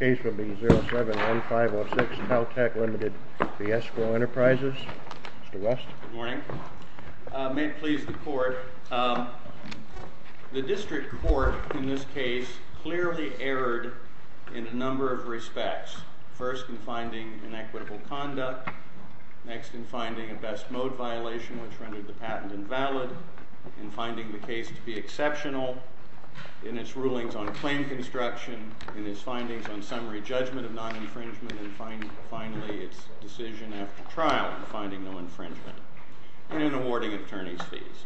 07-1506 Taltech LTD v. Esquel Enterprises Mr. West? Good morning. May it please the court, the district court in this case clearly erred in a number of respects. First, in finding inequitable conduct. Next, in finding a best mode violation, which rendered the patent invalid. In finding the case to be exceptional. In its rulings on claim construction. In its findings on summary judgment of non-infringement. And finally, its decision after trial. In finding no infringement. And in awarding attorney's fees.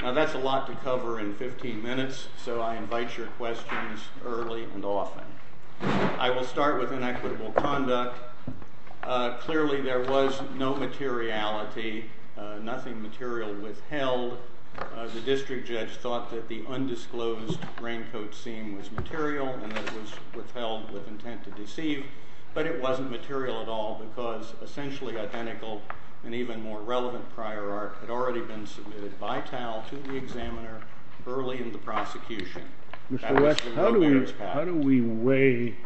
Now that's a lot to cover in 15 minutes, so I invite your questions early and often. I will start with inequitable conduct. Clearly there was no materiality, nothing material withheld. The district judge thought that the undisclosed raincoat seam was material, and that it was withheld with intent to deceive. But it wasn't material at all, because essentially identical and even more relevant prior art had already been submitted by TAL to the examiner early in the prosecution. Mr. West, how do we weigh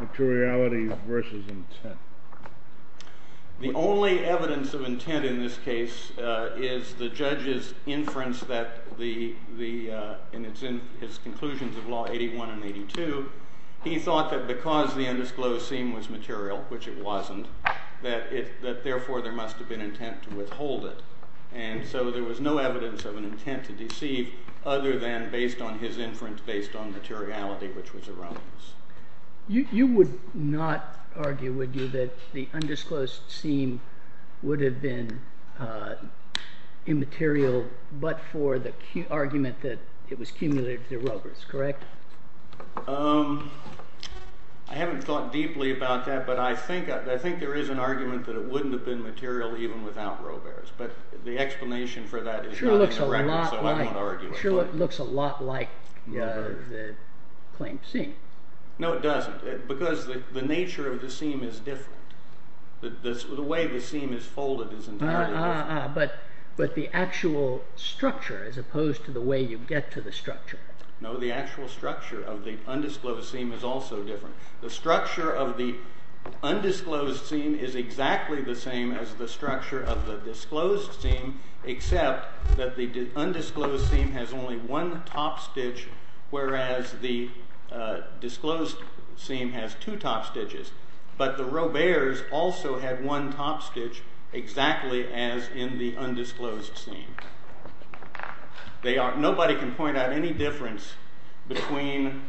materiality versus intent? The only evidence of intent in this case is the judge's inference that the, and it's in his conclusions of law 81 and 82, he thought that because the undisclosed seam was material, which it wasn't, that therefore there must have been intent to withhold it. And so there was no evidence of an intent to deceive other than based on his inference based on materiality, which was erroneous. You would not argue, would you, that the undisclosed seam would have been immaterial but for the argument that it was cumulatively erroneous, correct? I haven't thought deeply about that, but I think there is an argument that it wouldn't have been material even without Robert's. But the explanation for that is not in the record, so I won't argue it. Sure looks a lot like the claimed seam. No, it doesn't. Because the nature of the seam is different. The way the seam is folded is entirely different. But the actual structure, as opposed to the way you get to the structure. No, the actual structure of the undisclosed seam is also different. The structure of the undisclosed seam is exactly the same as the structure of the disclosed seam, except that the undisclosed seam has only one top stitch, whereas the disclosed seam has two top stitches. But the Robert's also had one top stitch, exactly as in the undisclosed seam. Nobody can point out any difference between,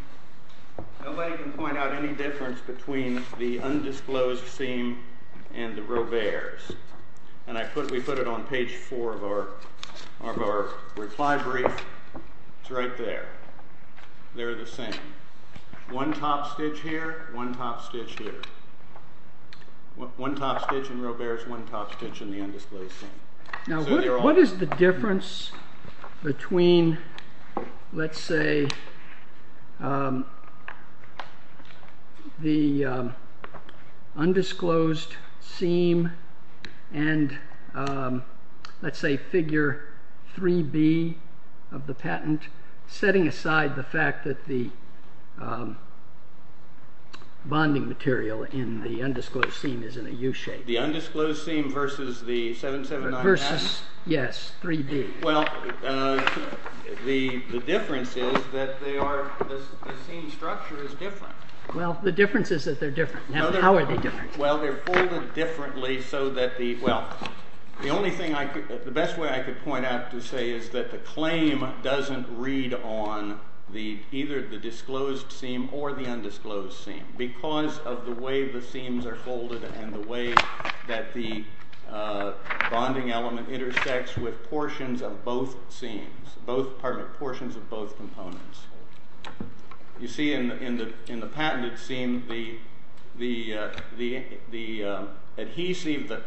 nobody can point out any difference between the undisclosed seam and the Robert's. And we put it on page four of our reply brief. It's right there. They're the same. One top stitch here, one top stitch here. One top stitch in Robert's, one top stitch in the undisclosed seam. Now what is the difference between, let's say, the undisclosed seam and, let's say, figure 3B of the patent, setting aside the fact that the bonding material in the undisclosed seam is in a U shape? The undisclosed seam versus the 779 patent? Yes, 3D. Well, the difference is that they are, the seam structure is different. Well, the difference is that they're different. How are they different? Well, they're folded differently so that the, well, the only thing I could, the best way I could point out to say is that the claim doesn't read on either the disclosed seam or the undisclosed seam because of the way the seams are folded and the way that the bonding element intersects with portions of both seams, both, pardon me, portions of both components. You see in the patented seam, the adhesive that,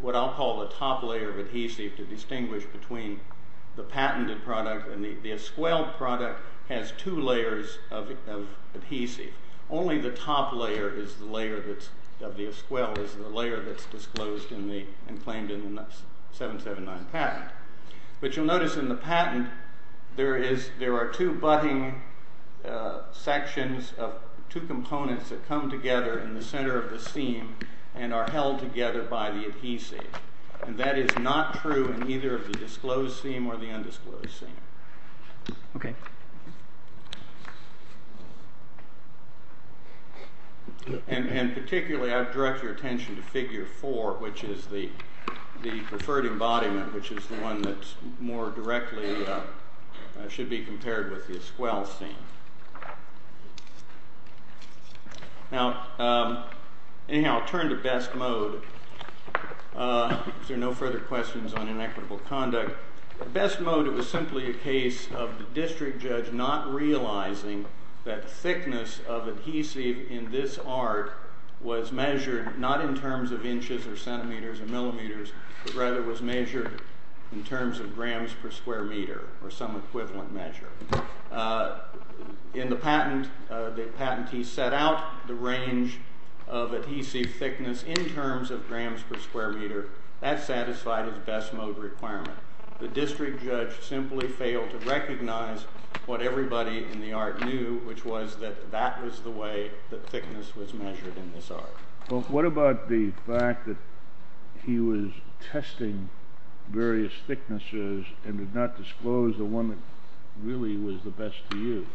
what I'll call the top layer of adhesive to distinguish between the patented product and the Asquel product has two layers of adhesive. Only the top layer is the layer that's, of the Asquel is the layer that's disclosed and claimed in the 779 patent. But you'll notice in the patent, there is, there are two butting sections of two components that come together in the center of the seam and are held together by the adhesive. And that is not true in either of the disclosed seam or the undisclosed seam. Okay. And particularly, I would direct your attention to figure four, which is the preferred embodiment, which is the one that's more directly, should be compared with the Asquel seam. Now, anyhow, I'll turn to best mode. Is there no further questions on inequitable conduct? The best mode, it was simply a case of the district judge not realizing that thickness of adhesive in this art was measured not in terms of inches or centimeters or millimeters, but rather was measured in terms of grams per square meter or some equivalent measure. In the patent, the patentee set out the range of adhesive thickness in terms of grams per square meter. That satisfied his best mode requirement. The district judge simply failed to recognize what everybody in the art knew, which was that that was the way that thickness was measured in this art. Well, what about the fact that he was testing various thicknesses and did not disclose the one that really was the best to use?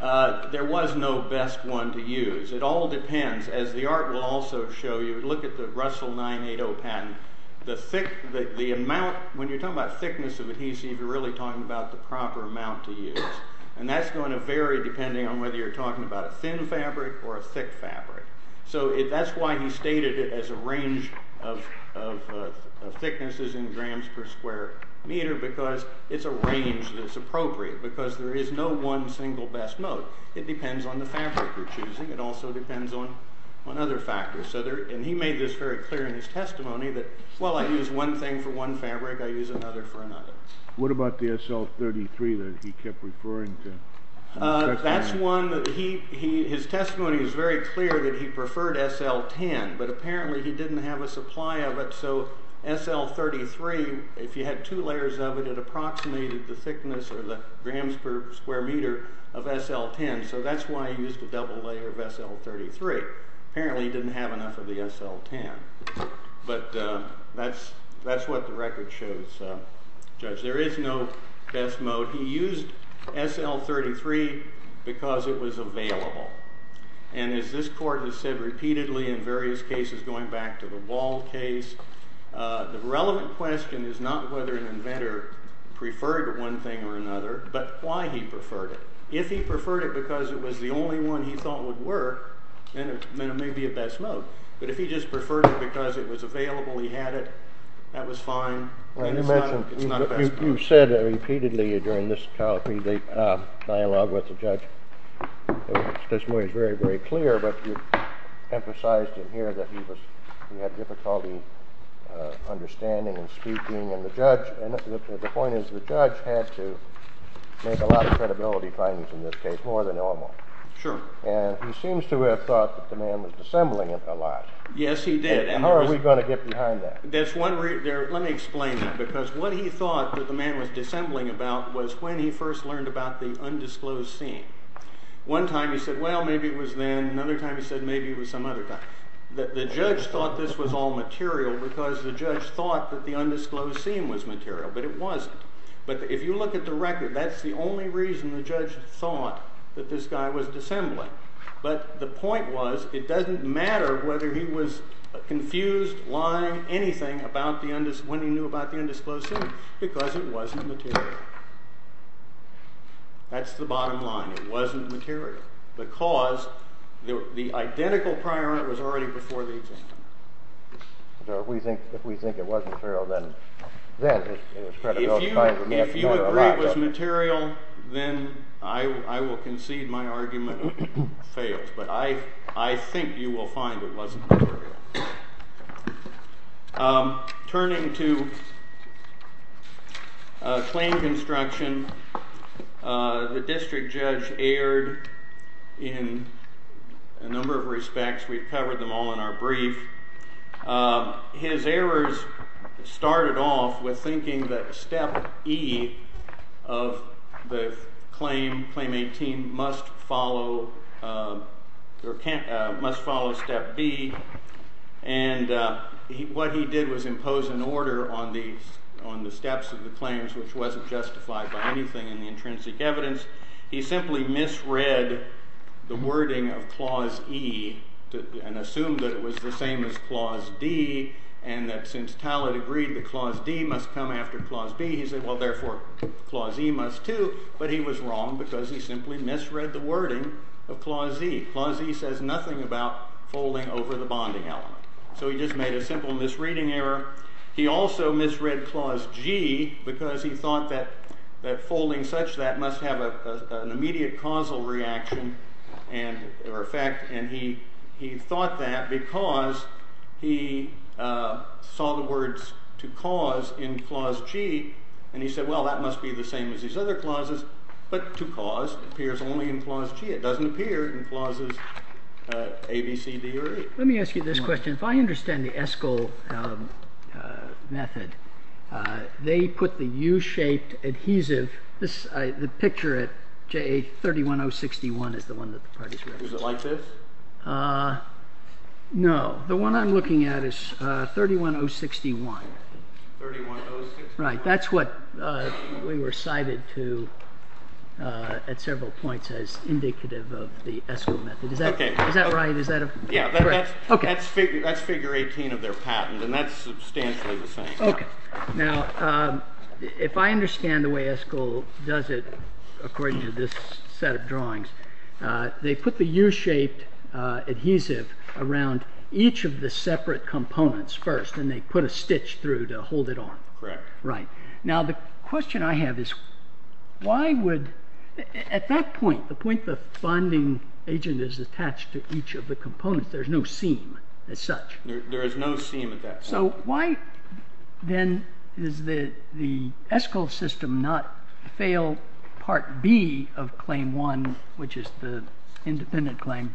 There was no best one to use. It all depends, as the art will also show you. Look at the Russell 980 patent. The amount, when you're talking about thickness of adhesive, you're really talking about the proper amount to use. And that's going to vary depending on whether you're talking about a thin fabric or a thick fabric. So that's why he stated it as a range of thicknesses in grams per square meter because it's a range that's appropriate because there is no one single best mode. It depends on the fabric you're choosing. It also depends on other factors. So there, and he made this very clear in his testimony that, well, I use one thing for one fabric. I use another for another. What about the SL33 that he kept referring to? That's one that he, his testimony is very clear that he preferred SL10, but apparently he didn't have a supply of it. So SL33, if you had two layers of it, it approximated the thickness or the grams per square meter of SL10. So that's why he used a double layer of SL33. Apparently he didn't have enough of the SL10, but that's what the record shows. Judge, there is no best mode. He used SL33 because it was available. And as this court has said repeatedly in various cases, going back to the Wald case, the relevant question is not whether an inventor preferred one thing or another, but why he preferred it. If he preferred it because it was the only one he thought would work, then it may be a best mode. But if he just preferred it because it was available, he had it, that was fine. You mentioned, you've said it repeatedly during this dialogue with the judge, testimony is very, very clear, but you emphasized in here that he was, he had difficulty understanding and speaking. And the judge, and the point is the judge had to make a lot of credibility findings in this case, more than normal. Sure. And he seems to have thought that the man was dissembling it a lot. Yes, he did. And how are we going to get behind that? That's one, let me explain that, because what he thought that the man was dissembling about was when he first learned about the undisclosed scene. One time he said, well, maybe it was then, another time he said, maybe it was some other time. The judge thought this was all material because the judge thought that the undisclosed scene was material, but it wasn't. But if you look at the record, that's the only reason the judge thought that this guy was dissembling. But the point was, it doesn't matter whether he was confused, lying, anything about when he knew about the undisclosed scene, because it wasn't material. That's the bottom line, it wasn't material, because the identical prior was already before the examiner. If we think it was material, then it's credible to find that we may have done it a lot better. If you agree it was material, then I will concede my argument fails. But I think you will find it wasn't material. Turning to claim construction, the district judge erred in a number of respects. We've covered them all in our brief. His errors started off with thinking that step E of the claim, claim 18, must follow step B. And what he did was impose an order on the steps of the claims, which wasn't justified by anything in the intrinsic evidence. He simply misread the wording of clause E and assumed that it was the same as clause D, and that since Talad agreed that clause D must come after clause B, he said, well, therefore, clause E must too. But he was wrong, because he simply misread the wording of clause E. Clause E says nothing about folding over the bonding element. So he just made a simple misreading error. He also misread clause G, because he thought that folding such that must have an immediate causal reaction or effect. And he thought that because he saw the words to cause in clause G, and he said, well, that must be the same as these other clauses. But to cause appears only in clause G. It doesn't appear in clauses A, B, C, D, or E. Let me ask you this question. If I understand the Eskol method, they put the U-shaped adhesive. The picture at JA 31061 is the one that the parties wrote. Was it like this? No. The one I'm looking at is 31061. Right, that's what we were cited to at several points as indicative of the Eskol method. Is that right? Is that correct? That's figure 18 of their patent, and that's substantially the same. Now, if I understand the way Eskol does it, according to this set of drawings, they put the U-shaped adhesive around each of the separate components first, and they put a stitch through to hold it on. Correct. Right. Now, the question I have is, why would, at that point, the point the bonding agent is attached to each of the components, there's no seam as such. There is no seam at that point. So why, then, is the Eskol system not fail Part B of Claim 1, which is the independent claim,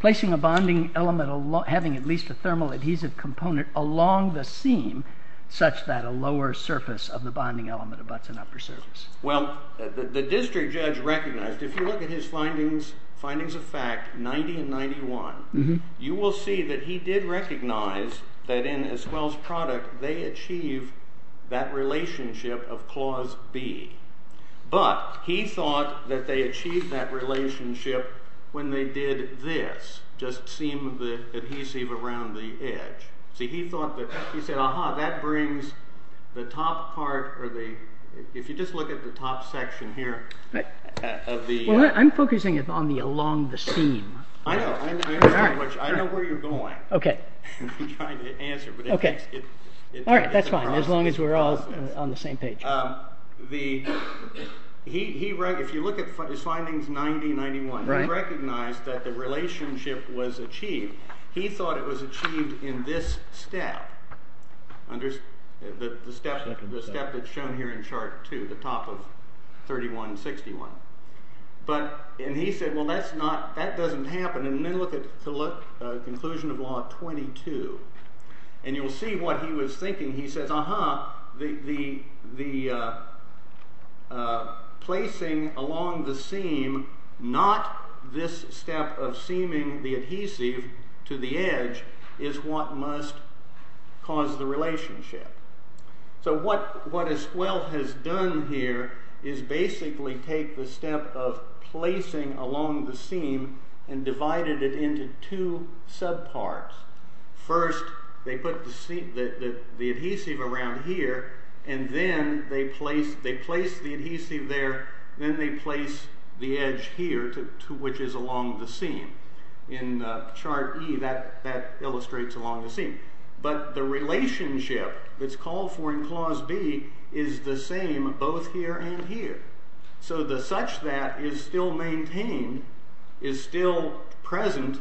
placing a bonding element, having at least a thermal adhesive component along the seam, such that a lower surface of the bonding element abuts an upper surface? Well, the district judge recognized, if you look at his findings of fact 90 and 91, you will see that he did recognize that in Eskol's product, they achieve that relationship of Clause B. But he thought that they achieved that relationship when they did this, just seam of the adhesive around the edge. See, he thought that, he said, aha, that brings the top part, or the, if you just look at the top section here, of the. Well, I'm focusing on the along the seam. I know, I understand what you're, I know where you're going. OK. I'm trying to answer, but it makes it, it's a problem. All right, that's fine. As long as we're all on the same page. If you look at his findings 90 and 91, he recognized that the relationship was achieved. He thought it was achieved in this step, the step that's shown here in chart two, the top of 31 and 61. But, and he said, well, that's not, that doesn't happen. And then look at conclusion of law 22. And you'll see what he was thinking. He says, aha, the placing along the seam, not this step of seaming the adhesive to the edge, is what must cause the relationship. So what Asquel has done here is basically take the step of placing along the seam and divided it into two subparts. First, they put the adhesive around here, and then they place the adhesive there, then they place the edge here, which is along the seam. In chart E, that illustrates along the seam. But the relationship that's called for in clause B is the same both here and here. So the such that is still maintained, is still present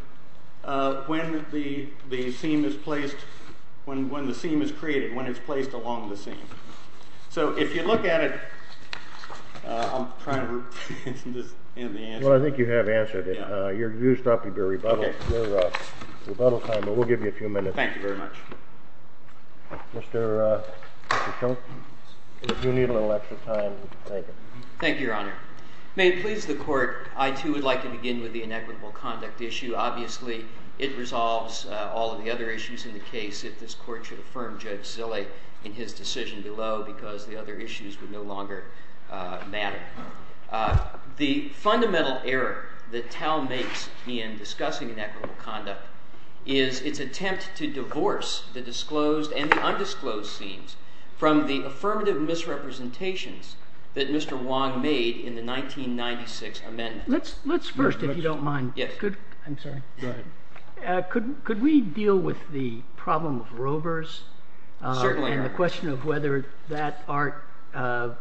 when the seam is placed, when the seam is created, when it's placed along the seam. So if you look at it, I'm trying to answer this in the answer. Well, I think you have answered it. You're used up. You've got to rebuttal time, but we'll give you a few minutes. Thank you very much. Mr. Chilton, if you need a little extra time, you can take it. Thank you, Your Honor. May it please the court, I, too, would like to begin with the inequitable conduct issue. Obviously, it resolves all of the other issues in the case if this court should affirm Judge Zille in his decision below because the other issues would no longer matter. The fundamental error that Tal makes in discussing inequitable conduct is its attempt to divorce the disclosed and the undisclosed seams from the affirmative misrepresentations that Mr. Wong made in the 1996 amendment. Let's first, if you don't mind, could we deal with the problem of rovers and the question of whether that part of,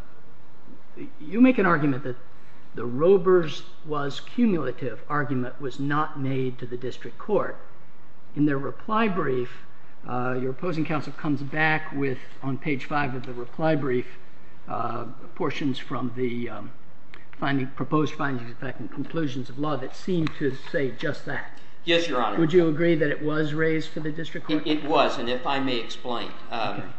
you make an argument that the rovers was cumulative argument was not made to the district court. In their reply brief, your opposing counsel comes back with, on page five of the reply brief, portions from the proposed findings, in fact, conclusions of law that seem to say just that. Yes, Your Honor. Would you agree that it was raised to the district court? It was, and if I may explain.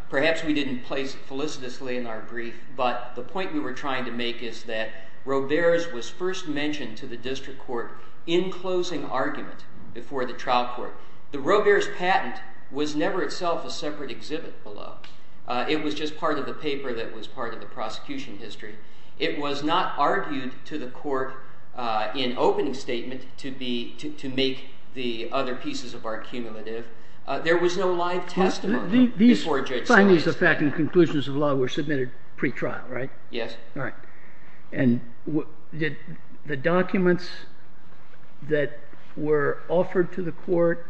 Perhaps we didn't place it felicitously in our brief, but the point we were trying to make is that rovers was first mentioned to the district court in closing argument before the trial court. The rovers patent was never itself a separate exhibit below. It was just part of the paper that was part of the prosecution history. It was not argued to the court in opening statement to make the other pieces of our cumulative. There was no live testimony before Judge Sotomayor. These findings of fact and conclusions of law were submitted pre-trial, right? Yes. All right. Did the documents that were offered to the court,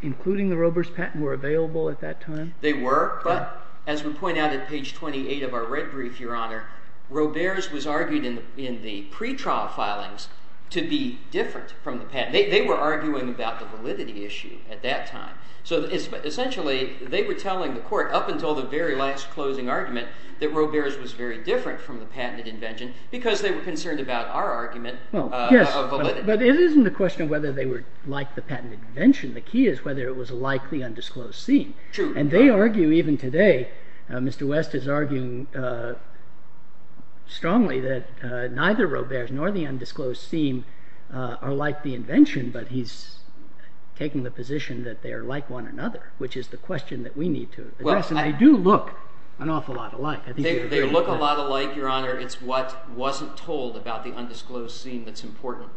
including the rovers patent, were available at that time? They were, but as we point out at page 28 of our red brief, Your Honor, rovers was argued in the pre-trial filings to be different from the patent. They were arguing about the validity issue at that time. So essentially, they were telling the court, up until the very last closing argument, that rovers was very different from the patented invention because they were concerned about our argument of validity. But it isn't a question of whether they were like the patented invention. The key is whether it was like the undisclosed scene. And they argue, even today, Mr. West is arguing strongly that neither rovers nor the undisclosed scene are like the invention, but he's taking the position that they are like one another, which is the question that we need to address. And they do look an awful lot alike. They look a lot alike, Your Honor. It's what wasn't told about the undisclosed scene that's important.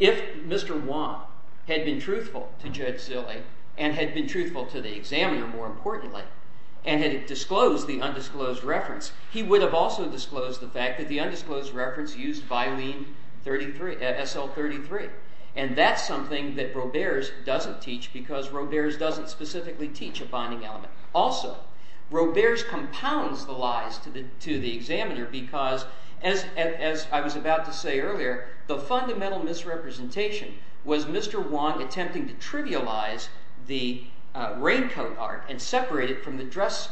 If Mr. Wong had been truthful to Judge Zille and had been truthful to the examiner, more importantly, and had disclosed the undisclosed reference, he would have also disclosed the fact that the undisclosed reference used Vylene SL-33. And that's something that rovers doesn't teach because rovers doesn't specifically teach a binding element. Also, rovers compounds the lies to the examiner because, as I was about to say earlier, the fundamental misrepresentation was Mr. Wong attempting to trivialize the raincoat art and separate it from the dress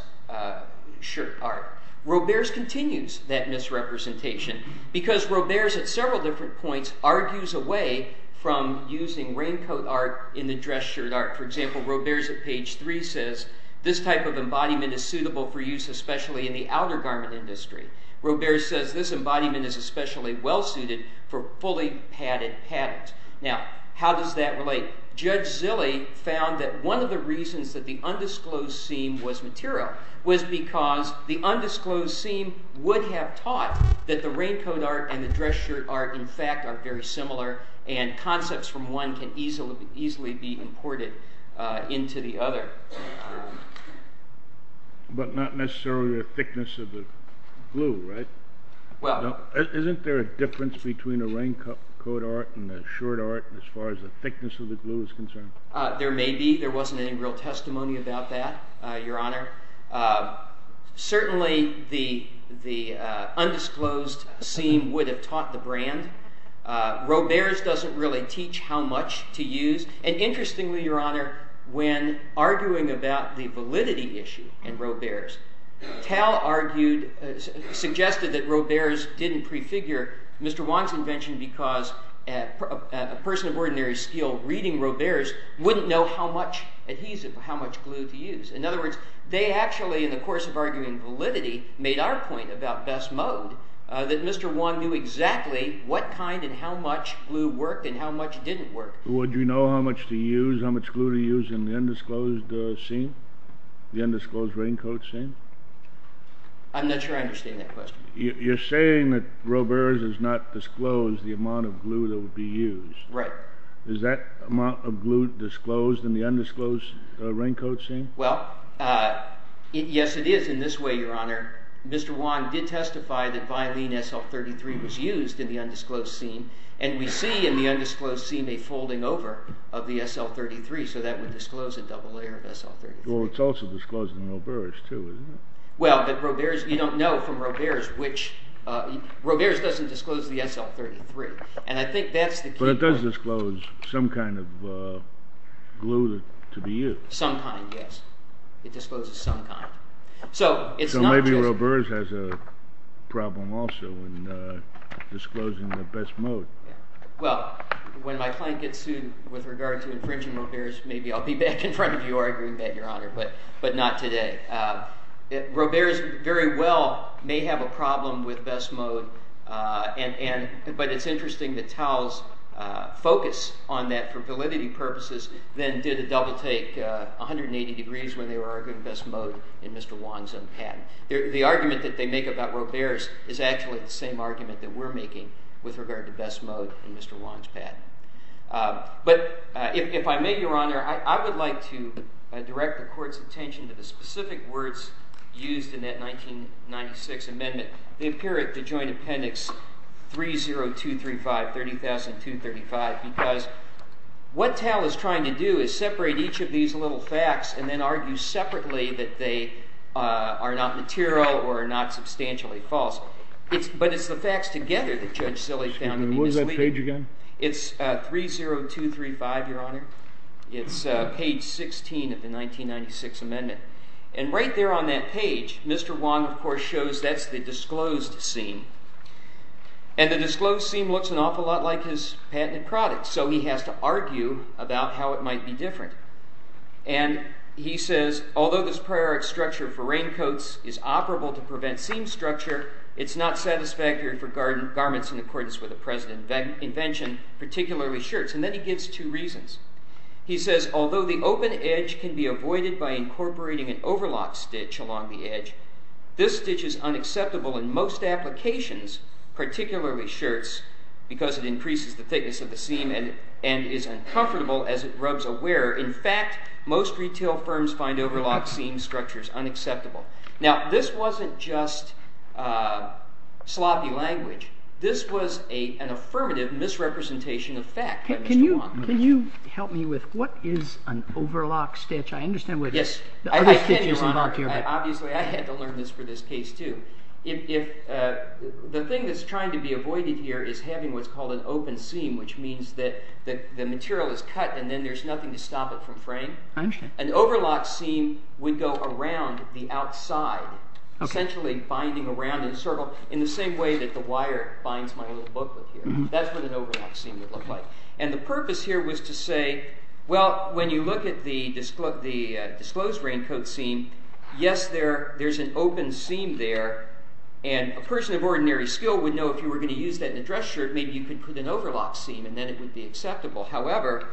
shirt art. Rovers continues that misrepresentation because rovers at several different points argues away from using raincoat art in the dress shirt art. For example, rovers at page 3 says, this type of embodiment is suitable for use especially in the outer garment industry. Rovers says, this embodiment is especially well suited for fully padded patterns. Now, how does that relate? Judge Zille found that one of the reasons that the undisclosed seam was material was because the undisclosed seam would have taught that the raincoat art and the dress shirt art, in fact, are very similar. And concepts from one can easily be imported into the other. But not necessarily the thickness of the glue, right? Well, isn't there a difference between a raincoat art and a shirt art as far as the thickness of the glue is concerned? There may be. There wasn't any real testimony about that, Your Honor. Certainly, the undisclosed seam would have taught the brand. Rovers doesn't really teach how much to use. And interestingly, Your Honor, when arguing about the validity issue in rovers, Tal suggested that rovers didn't prefigure Mr. Wong's invention because a person of ordinary skill reading rovers wouldn't know how much adhesive, how much glue to use. In other words, they actually, in the course of arguing validity, made our point about best mode, that Mr. Wong knew exactly what kind and how much glue worked and how much didn't work. Would you know how much to use, how much glue to use in the undisclosed seam, the undisclosed raincoat seam? I'm not sure I understand that question. You're saying that rovers does not disclose the amount of glue that would be used. Right. Is that amount of glue disclosed in the undisclosed raincoat seam? Well, yes, it is in this way, Your Honor. Mr. Wong did testify that Vylene SL-33 was used in the undisclosed seam. And we see in the undisclosed seam a folding over of the SL-33. So that would disclose a double layer of SL-33. Well, it's also disclosed in rovers too, isn't it? Well, but rovers, you don't know from rovers which, rovers doesn't disclose the SL-33. And I think that's the key point. But it does disclose some kind of glue to be used. Some kind, yes. It discloses some kind. So it's not just. So maybe rovers has a problem also in disclosing the best mode. Well, when my client gets sued with regard to infringing rovers, maybe I'll be back in front of you arguing that, Your Honor, but not today. Rovers very well may have a problem with best mode. But it's interesting that Towles' focus on that, for validity purposes, then did a double take 180 degrees when they were arguing best mode in Mr. Wong's own patent. The argument that they make about rovers is actually the same argument that we're making with regard to best mode in Mr. Wong's patent. But if I may, Your Honor, I would like to direct the court's attention to the specific words used in that 1996 amendment. They appear at the joint appendix 30235, 30,235. Because what Towles is trying to do is separate each of these little facts and then argue separately that they are not material or are not substantially false. But it's the facts together that Judge Zillig found to be misleading. Excuse me, what was that page again? It's 30235, Your Honor. It's page 16 of the 1996 amendment. And right there on that page, Mr. Wong, of course, shows that's the disclosed seam. And the disclosed seam looks an awful lot like his patented product. So he has to argue about how it might be different. And he says, although this prior structure for raincoats is operable to prevent seam structure, it's not satisfactory for garments in accordance with the present invention, particularly shirts. And then he gives two reasons. He says, although the open edge can be avoided by incorporating an overlock stitch along the edge, this stitch is unacceptable in most applications, particularly shirts, because it increases the thickness of the seam and is uncomfortable as it rubs a wearer. In fact, most retail firms find overlock seam structures unacceptable. Now, this wasn't just sloppy language. This was an affirmative misrepresentation of fact by Mr. Wong. Can you help me with what is an overlock stitch? I understand what the other stitches involved here. Obviously, I had to learn this for this case, too. The thing that's trying to be avoided here is having what's called an open seam, which means that the material is cut, and then there's nothing to stop it from fraying. An overlock seam would go around the outside, essentially binding around in a circle in the same way that the wire binds my little booklet here. That's what an overlock seam would look like. And the purpose here was to say, well, when you look at the disclosed raincoat seam, yes, there's an open seam there. And a person of ordinary skill would know if you were going to use that in a dress shirt, maybe you could put an overlock seam, and then it would be acceptable. However,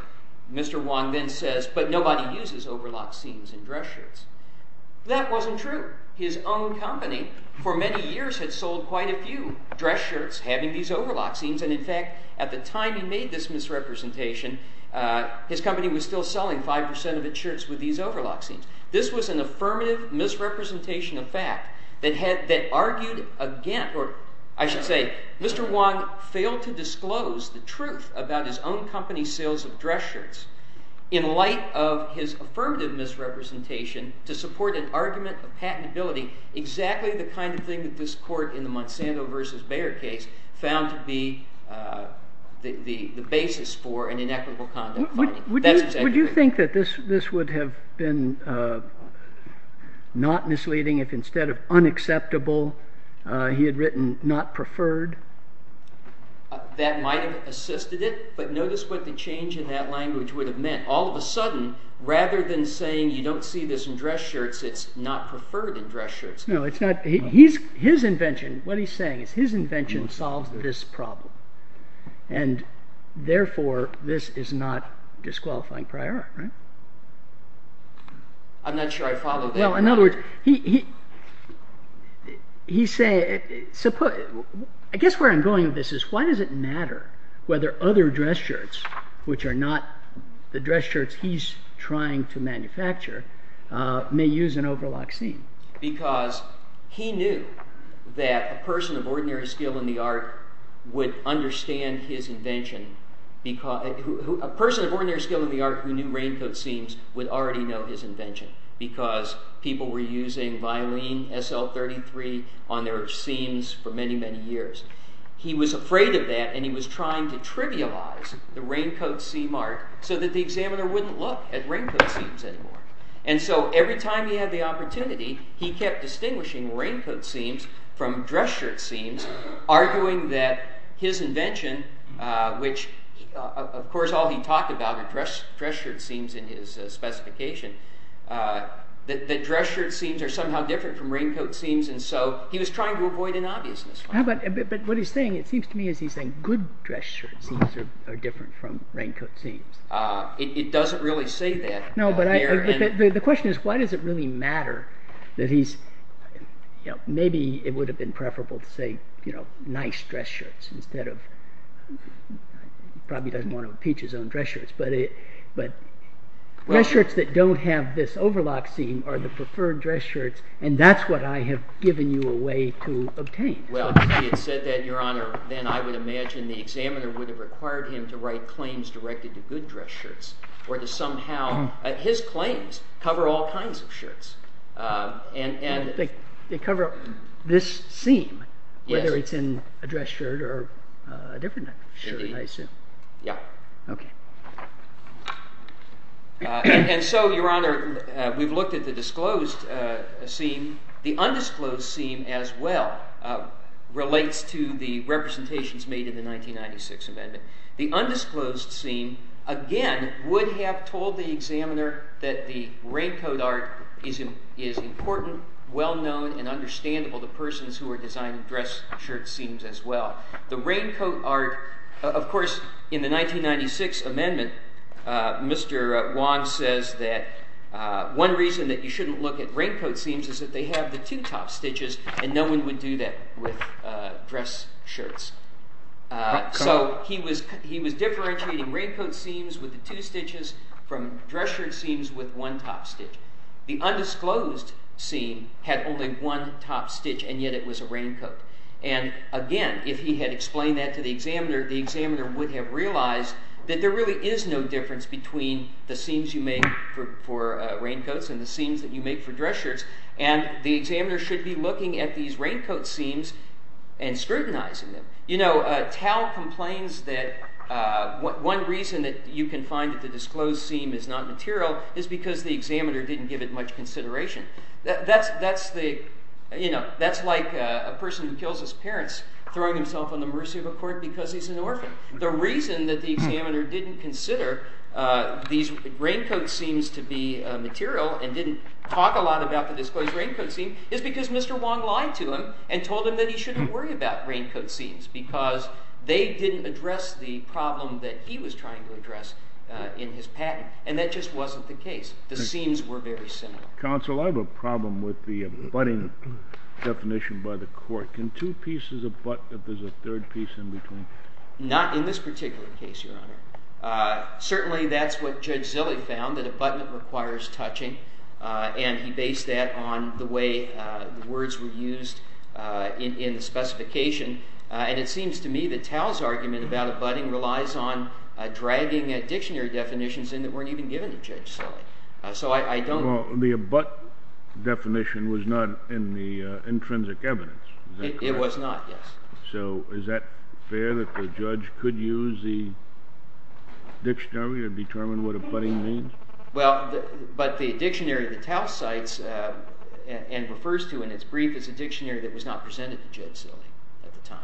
Mr. Wong then says, but nobody uses overlock seams in dress shirts. That wasn't true. His own company, for many years, had sold quite a few dress shirts having these overlock seams. And in fact, at the time he made this misrepresentation, his company was still selling 5% of its shirts with these overlock seams. This was an affirmative misrepresentation of fact that argued against, or I should say, Mr. Wong failed to disclose the truth about his own company's sales of dress shirts in light of his affirmative misrepresentation to support an argument of patentability, exactly the kind of thing that this court in the Monsanto versus Bayer case found to be the basis for an inequitable conduct finding. Would you think that this would have been not misleading if instead of unacceptable, he had written not preferred? That might have assisted it. But notice what the change in that language would have meant. All of a sudden, rather than saying you don't see this in dress shirts, it's not preferred in dress shirts. No, it's not. His invention, what he's saying is his invention solves this problem. And therefore, this is not disqualifying prior, right? I'm not sure I follow that. No, in other words, I guess where I'm going with this is why does it matter whether other dress shirts, which are not the dress shirts he's trying to manufacture, may use an overlock seam? Because he knew that a person of ordinary skill in the art would understand his invention. A person of ordinary skill in the art who knew raincoat seams would already know his invention. Because people were using violin SL33 on their seams for many, many years. He was afraid of that, and he was trying to trivialize the raincoat seam art so that the examiner wouldn't look at raincoat seams anymore. And so every time he had the opportunity, he kept distinguishing raincoat seams from dress shirt seams, arguing that his invention, which of course all he talked about are dress shirt seams in his specification, that dress shirt seams are somehow different from raincoat seams. And so he was trying to avoid an obviousness. But what he's saying, it seems to me as he's saying good dress shirt seams are different from raincoat seams. It doesn't really say that. No, but the question is, why does it really matter that he's, maybe it would have been preferable to say, you know, nice dress shirts instead of, he probably doesn't want to impeach his own dress shirts. But dress shirts that don't have this overlock seam are the preferred dress shirts, and that's what I have given you a way to obtain. Well, if he had said that, Your Honor, then I would imagine the examiner would have required him to write claims directed to good dress shirts. Or to somehow, his claims cover all kinds of shirts. And they cover this seam, whether it's in a dress shirt or a different shirt, I assume. Yeah. OK. And so, Your Honor, we've looked at the disclosed seam. The undisclosed seam, as well, relates to the representations made in the 1996 amendment. The undisclosed seam, again, would have told the examiner that the raincoat art is important, well-known, and understandable to persons who are designing dress shirt seams, as well. The raincoat art, of course, in the 1996 amendment, Mr. Wong says that one reason that you shouldn't look at raincoat seams is that they have the two top stitches, and no one would do that with dress shirts. So he was differentiating raincoat seams with the two stitches from dress shirt seams with one top stitch. The undisclosed seam had only one top stitch, and yet it was a raincoat. And again, if he had explained that to the examiner, the examiner would have realized that there really is no difference between the seams you make for raincoats and the seams that you make for dress shirts. And the examiner should be looking at these raincoat seams and scrutinizing them. You know, Tao complains that one reason that you can find that the disclosed seam is not material is because the examiner didn't give it much consideration. That's like a person who kills his parents throwing himself on the mercy of a court because he's an orphan. The reason that the examiner didn't consider these raincoat seams to be material and didn't talk a lot about the disclosed raincoat seam is because Mr. Wong lied to him and told him that he shouldn't worry about raincoat seams, because they didn't address the problem that he was trying to address in his patent. And that just wasn't the case. The seams were very similar. Counsel, I have a problem with the abutting definition by the court. Can two pieces abut if there's a third piece in between? Not in this particular case, Your Honor. Certainly, that's what Judge Zille found, that abutment requires touching. And he based that on the way the words were used in the specification. And it seems to me that Tao's argument about abutting relies on dragging dictionary definitions in that weren't even given to Judge Zille. So I don't know. Well, the abut definition was not in the intrinsic evidence. It was not, yes. So is that fair that the judge could use the dictionary to determine what abutting means? Well, but the dictionary that Tao cites and refers to in its brief is a dictionary that was not presented to Judge Zille at the time.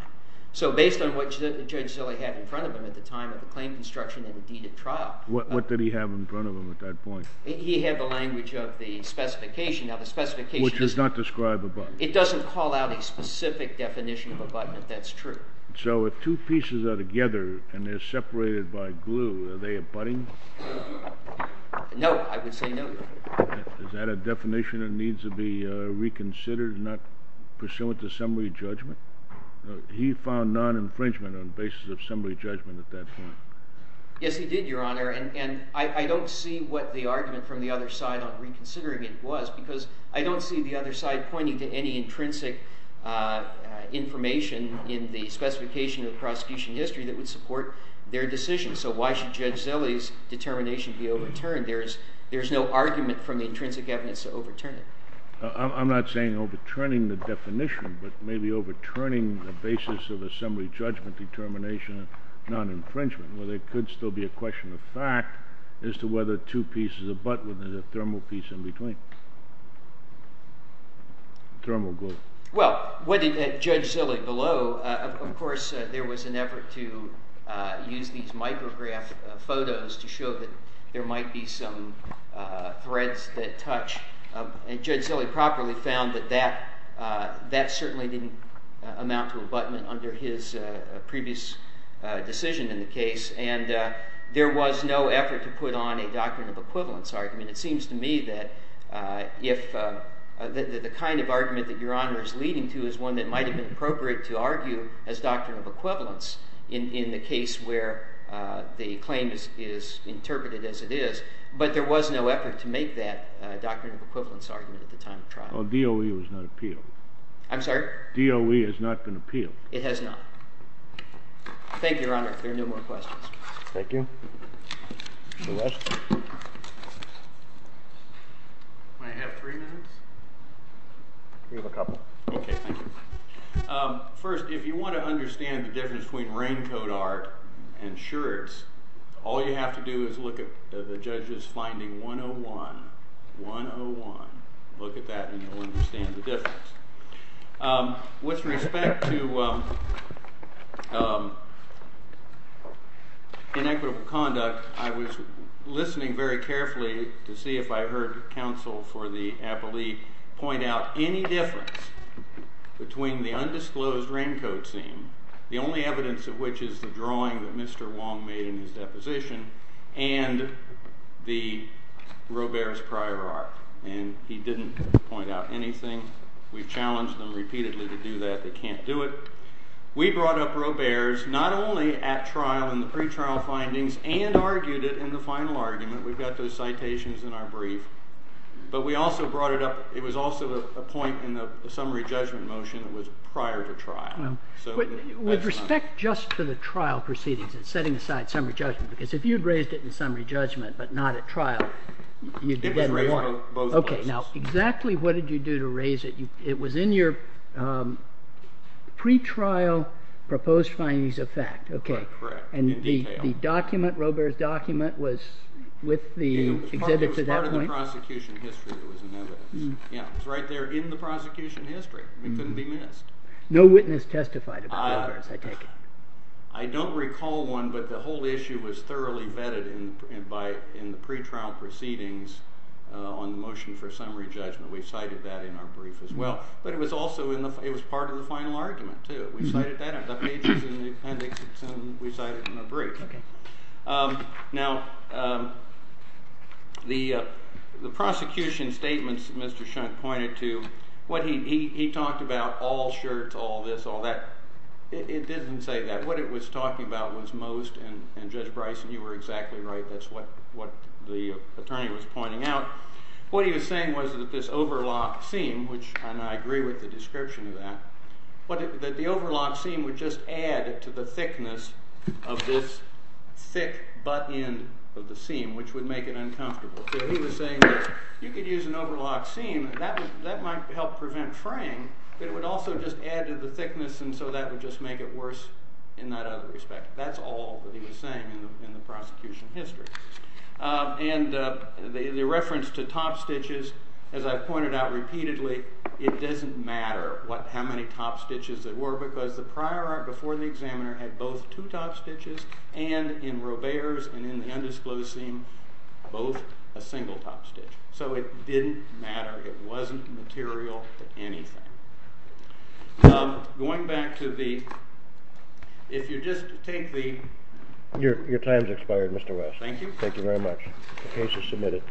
So based on what Judge Zille had in front of him at the time of the claim construction and the deed at trial. What did he have in front of him at that point? He had the language of the specification. Now, the specification does not describe abutment. It doesn't call out a specific definition of abutment. That's true. So if two pieces are together and they're separated by glue, are they abutting? No, I would say no. Is that a definition that needs to be reconsidered, not pursuant to summary judgment? He found non-infringement on the basis of summary judgment at that point. Yes, he did, Your Honor. And I don't see what the argument from the other side on reconsidering it was, because I don't see the other side pointing to any intrinsic information in the specification of the prosecution history that would support their decision. So why should Judge Zille's determination be overturned? There's no argument from the intrinsic evidence to overturn it. I'm not saying overturning the definition, but maybe overturning the basis of a summary judgment determination of non-infringement, where there could still be a question of fact as to whether two pieces abut when there's a thermal piece in between, thermal glue. Well, Judge Zille, below, of course, there was an effort to use these micrograph photos to show that there might be some threads that touch. And Judge Zille properly found that that certainly didn't amount to abutment under his previous decision in the case. And there was no effort to put on a doctrine of equivalence argument. It seems to me that the kind of argument that Your Honor is leading to is one that might have been appropriate to argue as doctrine of equivalence in the case where the claim is interpreted as it is. But there was no effort to make that doctrine of equivalence argument at the time of trial. DOE was not appealed. I'm sorry? DOE has not been appealed. It has not. Thank you, Your Honor. If there are no more questions. Thank you. May I have three minutes? We have a couple. OK, thank you. First, if you want to understand the difference between rain coat art and shirts, all you have to do is look at the judge's finding 101, 101. Look at that, and you'll understand the difference. With respect to inequitable conduct, I was listening very carefully to see if I heard counsel for the appellee point out any difference between the undisclosed rain coat scene, the only evidence of which is the drawing that Mr. Wong made in his deposition, and the Robert's prior art. And he didn't point out anything. We've challenged them repeatedly to do that. They can't do it. We brought up Robert's not only at trial in the pretrial findings and argued it in the final argument. We've got those citations in our brief. But we also brought it up. It was also a point in the summary judgment motion that was prior to trial. With respect just to the trial proceedings, and setting aside summary judgment, because if you'd raised it in summary judgment but not at trial, you'd get one. OK. Now, exactly what did you do to raise it? It was in your pretrial proposed findings of fact. OK. And the document, Robert's document, was with the exhibit to that point? It was part of the prosecution history that was in evidence. It was right there in the prosecution history. It couldn't be missed. No witness testified about Robert's, I take it. I don't recall one, but the whole issue was thoroughly vetted in the pretrial proceedings on the motion for summary judgment. We cited that in our brief as well. But it was part of the final argument, too. We cited that in the pages in the appendix. We cited it in the brief. Now, the prosecution statements Mr. Shunt pointed to, what he talked about, all shirts, all this, all that, it didn't say that. What it was talking about was most, and Judge Bryson, you were exactly right. That's what the attorney was pointing out. What he was saying was that this overlock seam, which I agree with the description of that, but that the overlock seam would just add to the thickness of this thick butt end of the seam, which would make it uncomfortable. So he was saying that you could use an overlock seam. That might help prevent fraying, but it would also just add to the thickness, and so that would just make it worse in that other respect. That's all that he was saying in the prosecution history. And the reference to topstitches, as I've pointed out repeatedly, it doesn't matter how many topstitches there were, because the prior art before the examiner had both two topstitches. And in Robert's and in the undisclosed seam, both a single topstitch. So it didn't matter. It wasn't material to anything. Now, going back to the, if you just take the. Your time's expired, Mr. West. Thank you. Thank you very much. The case is submitted.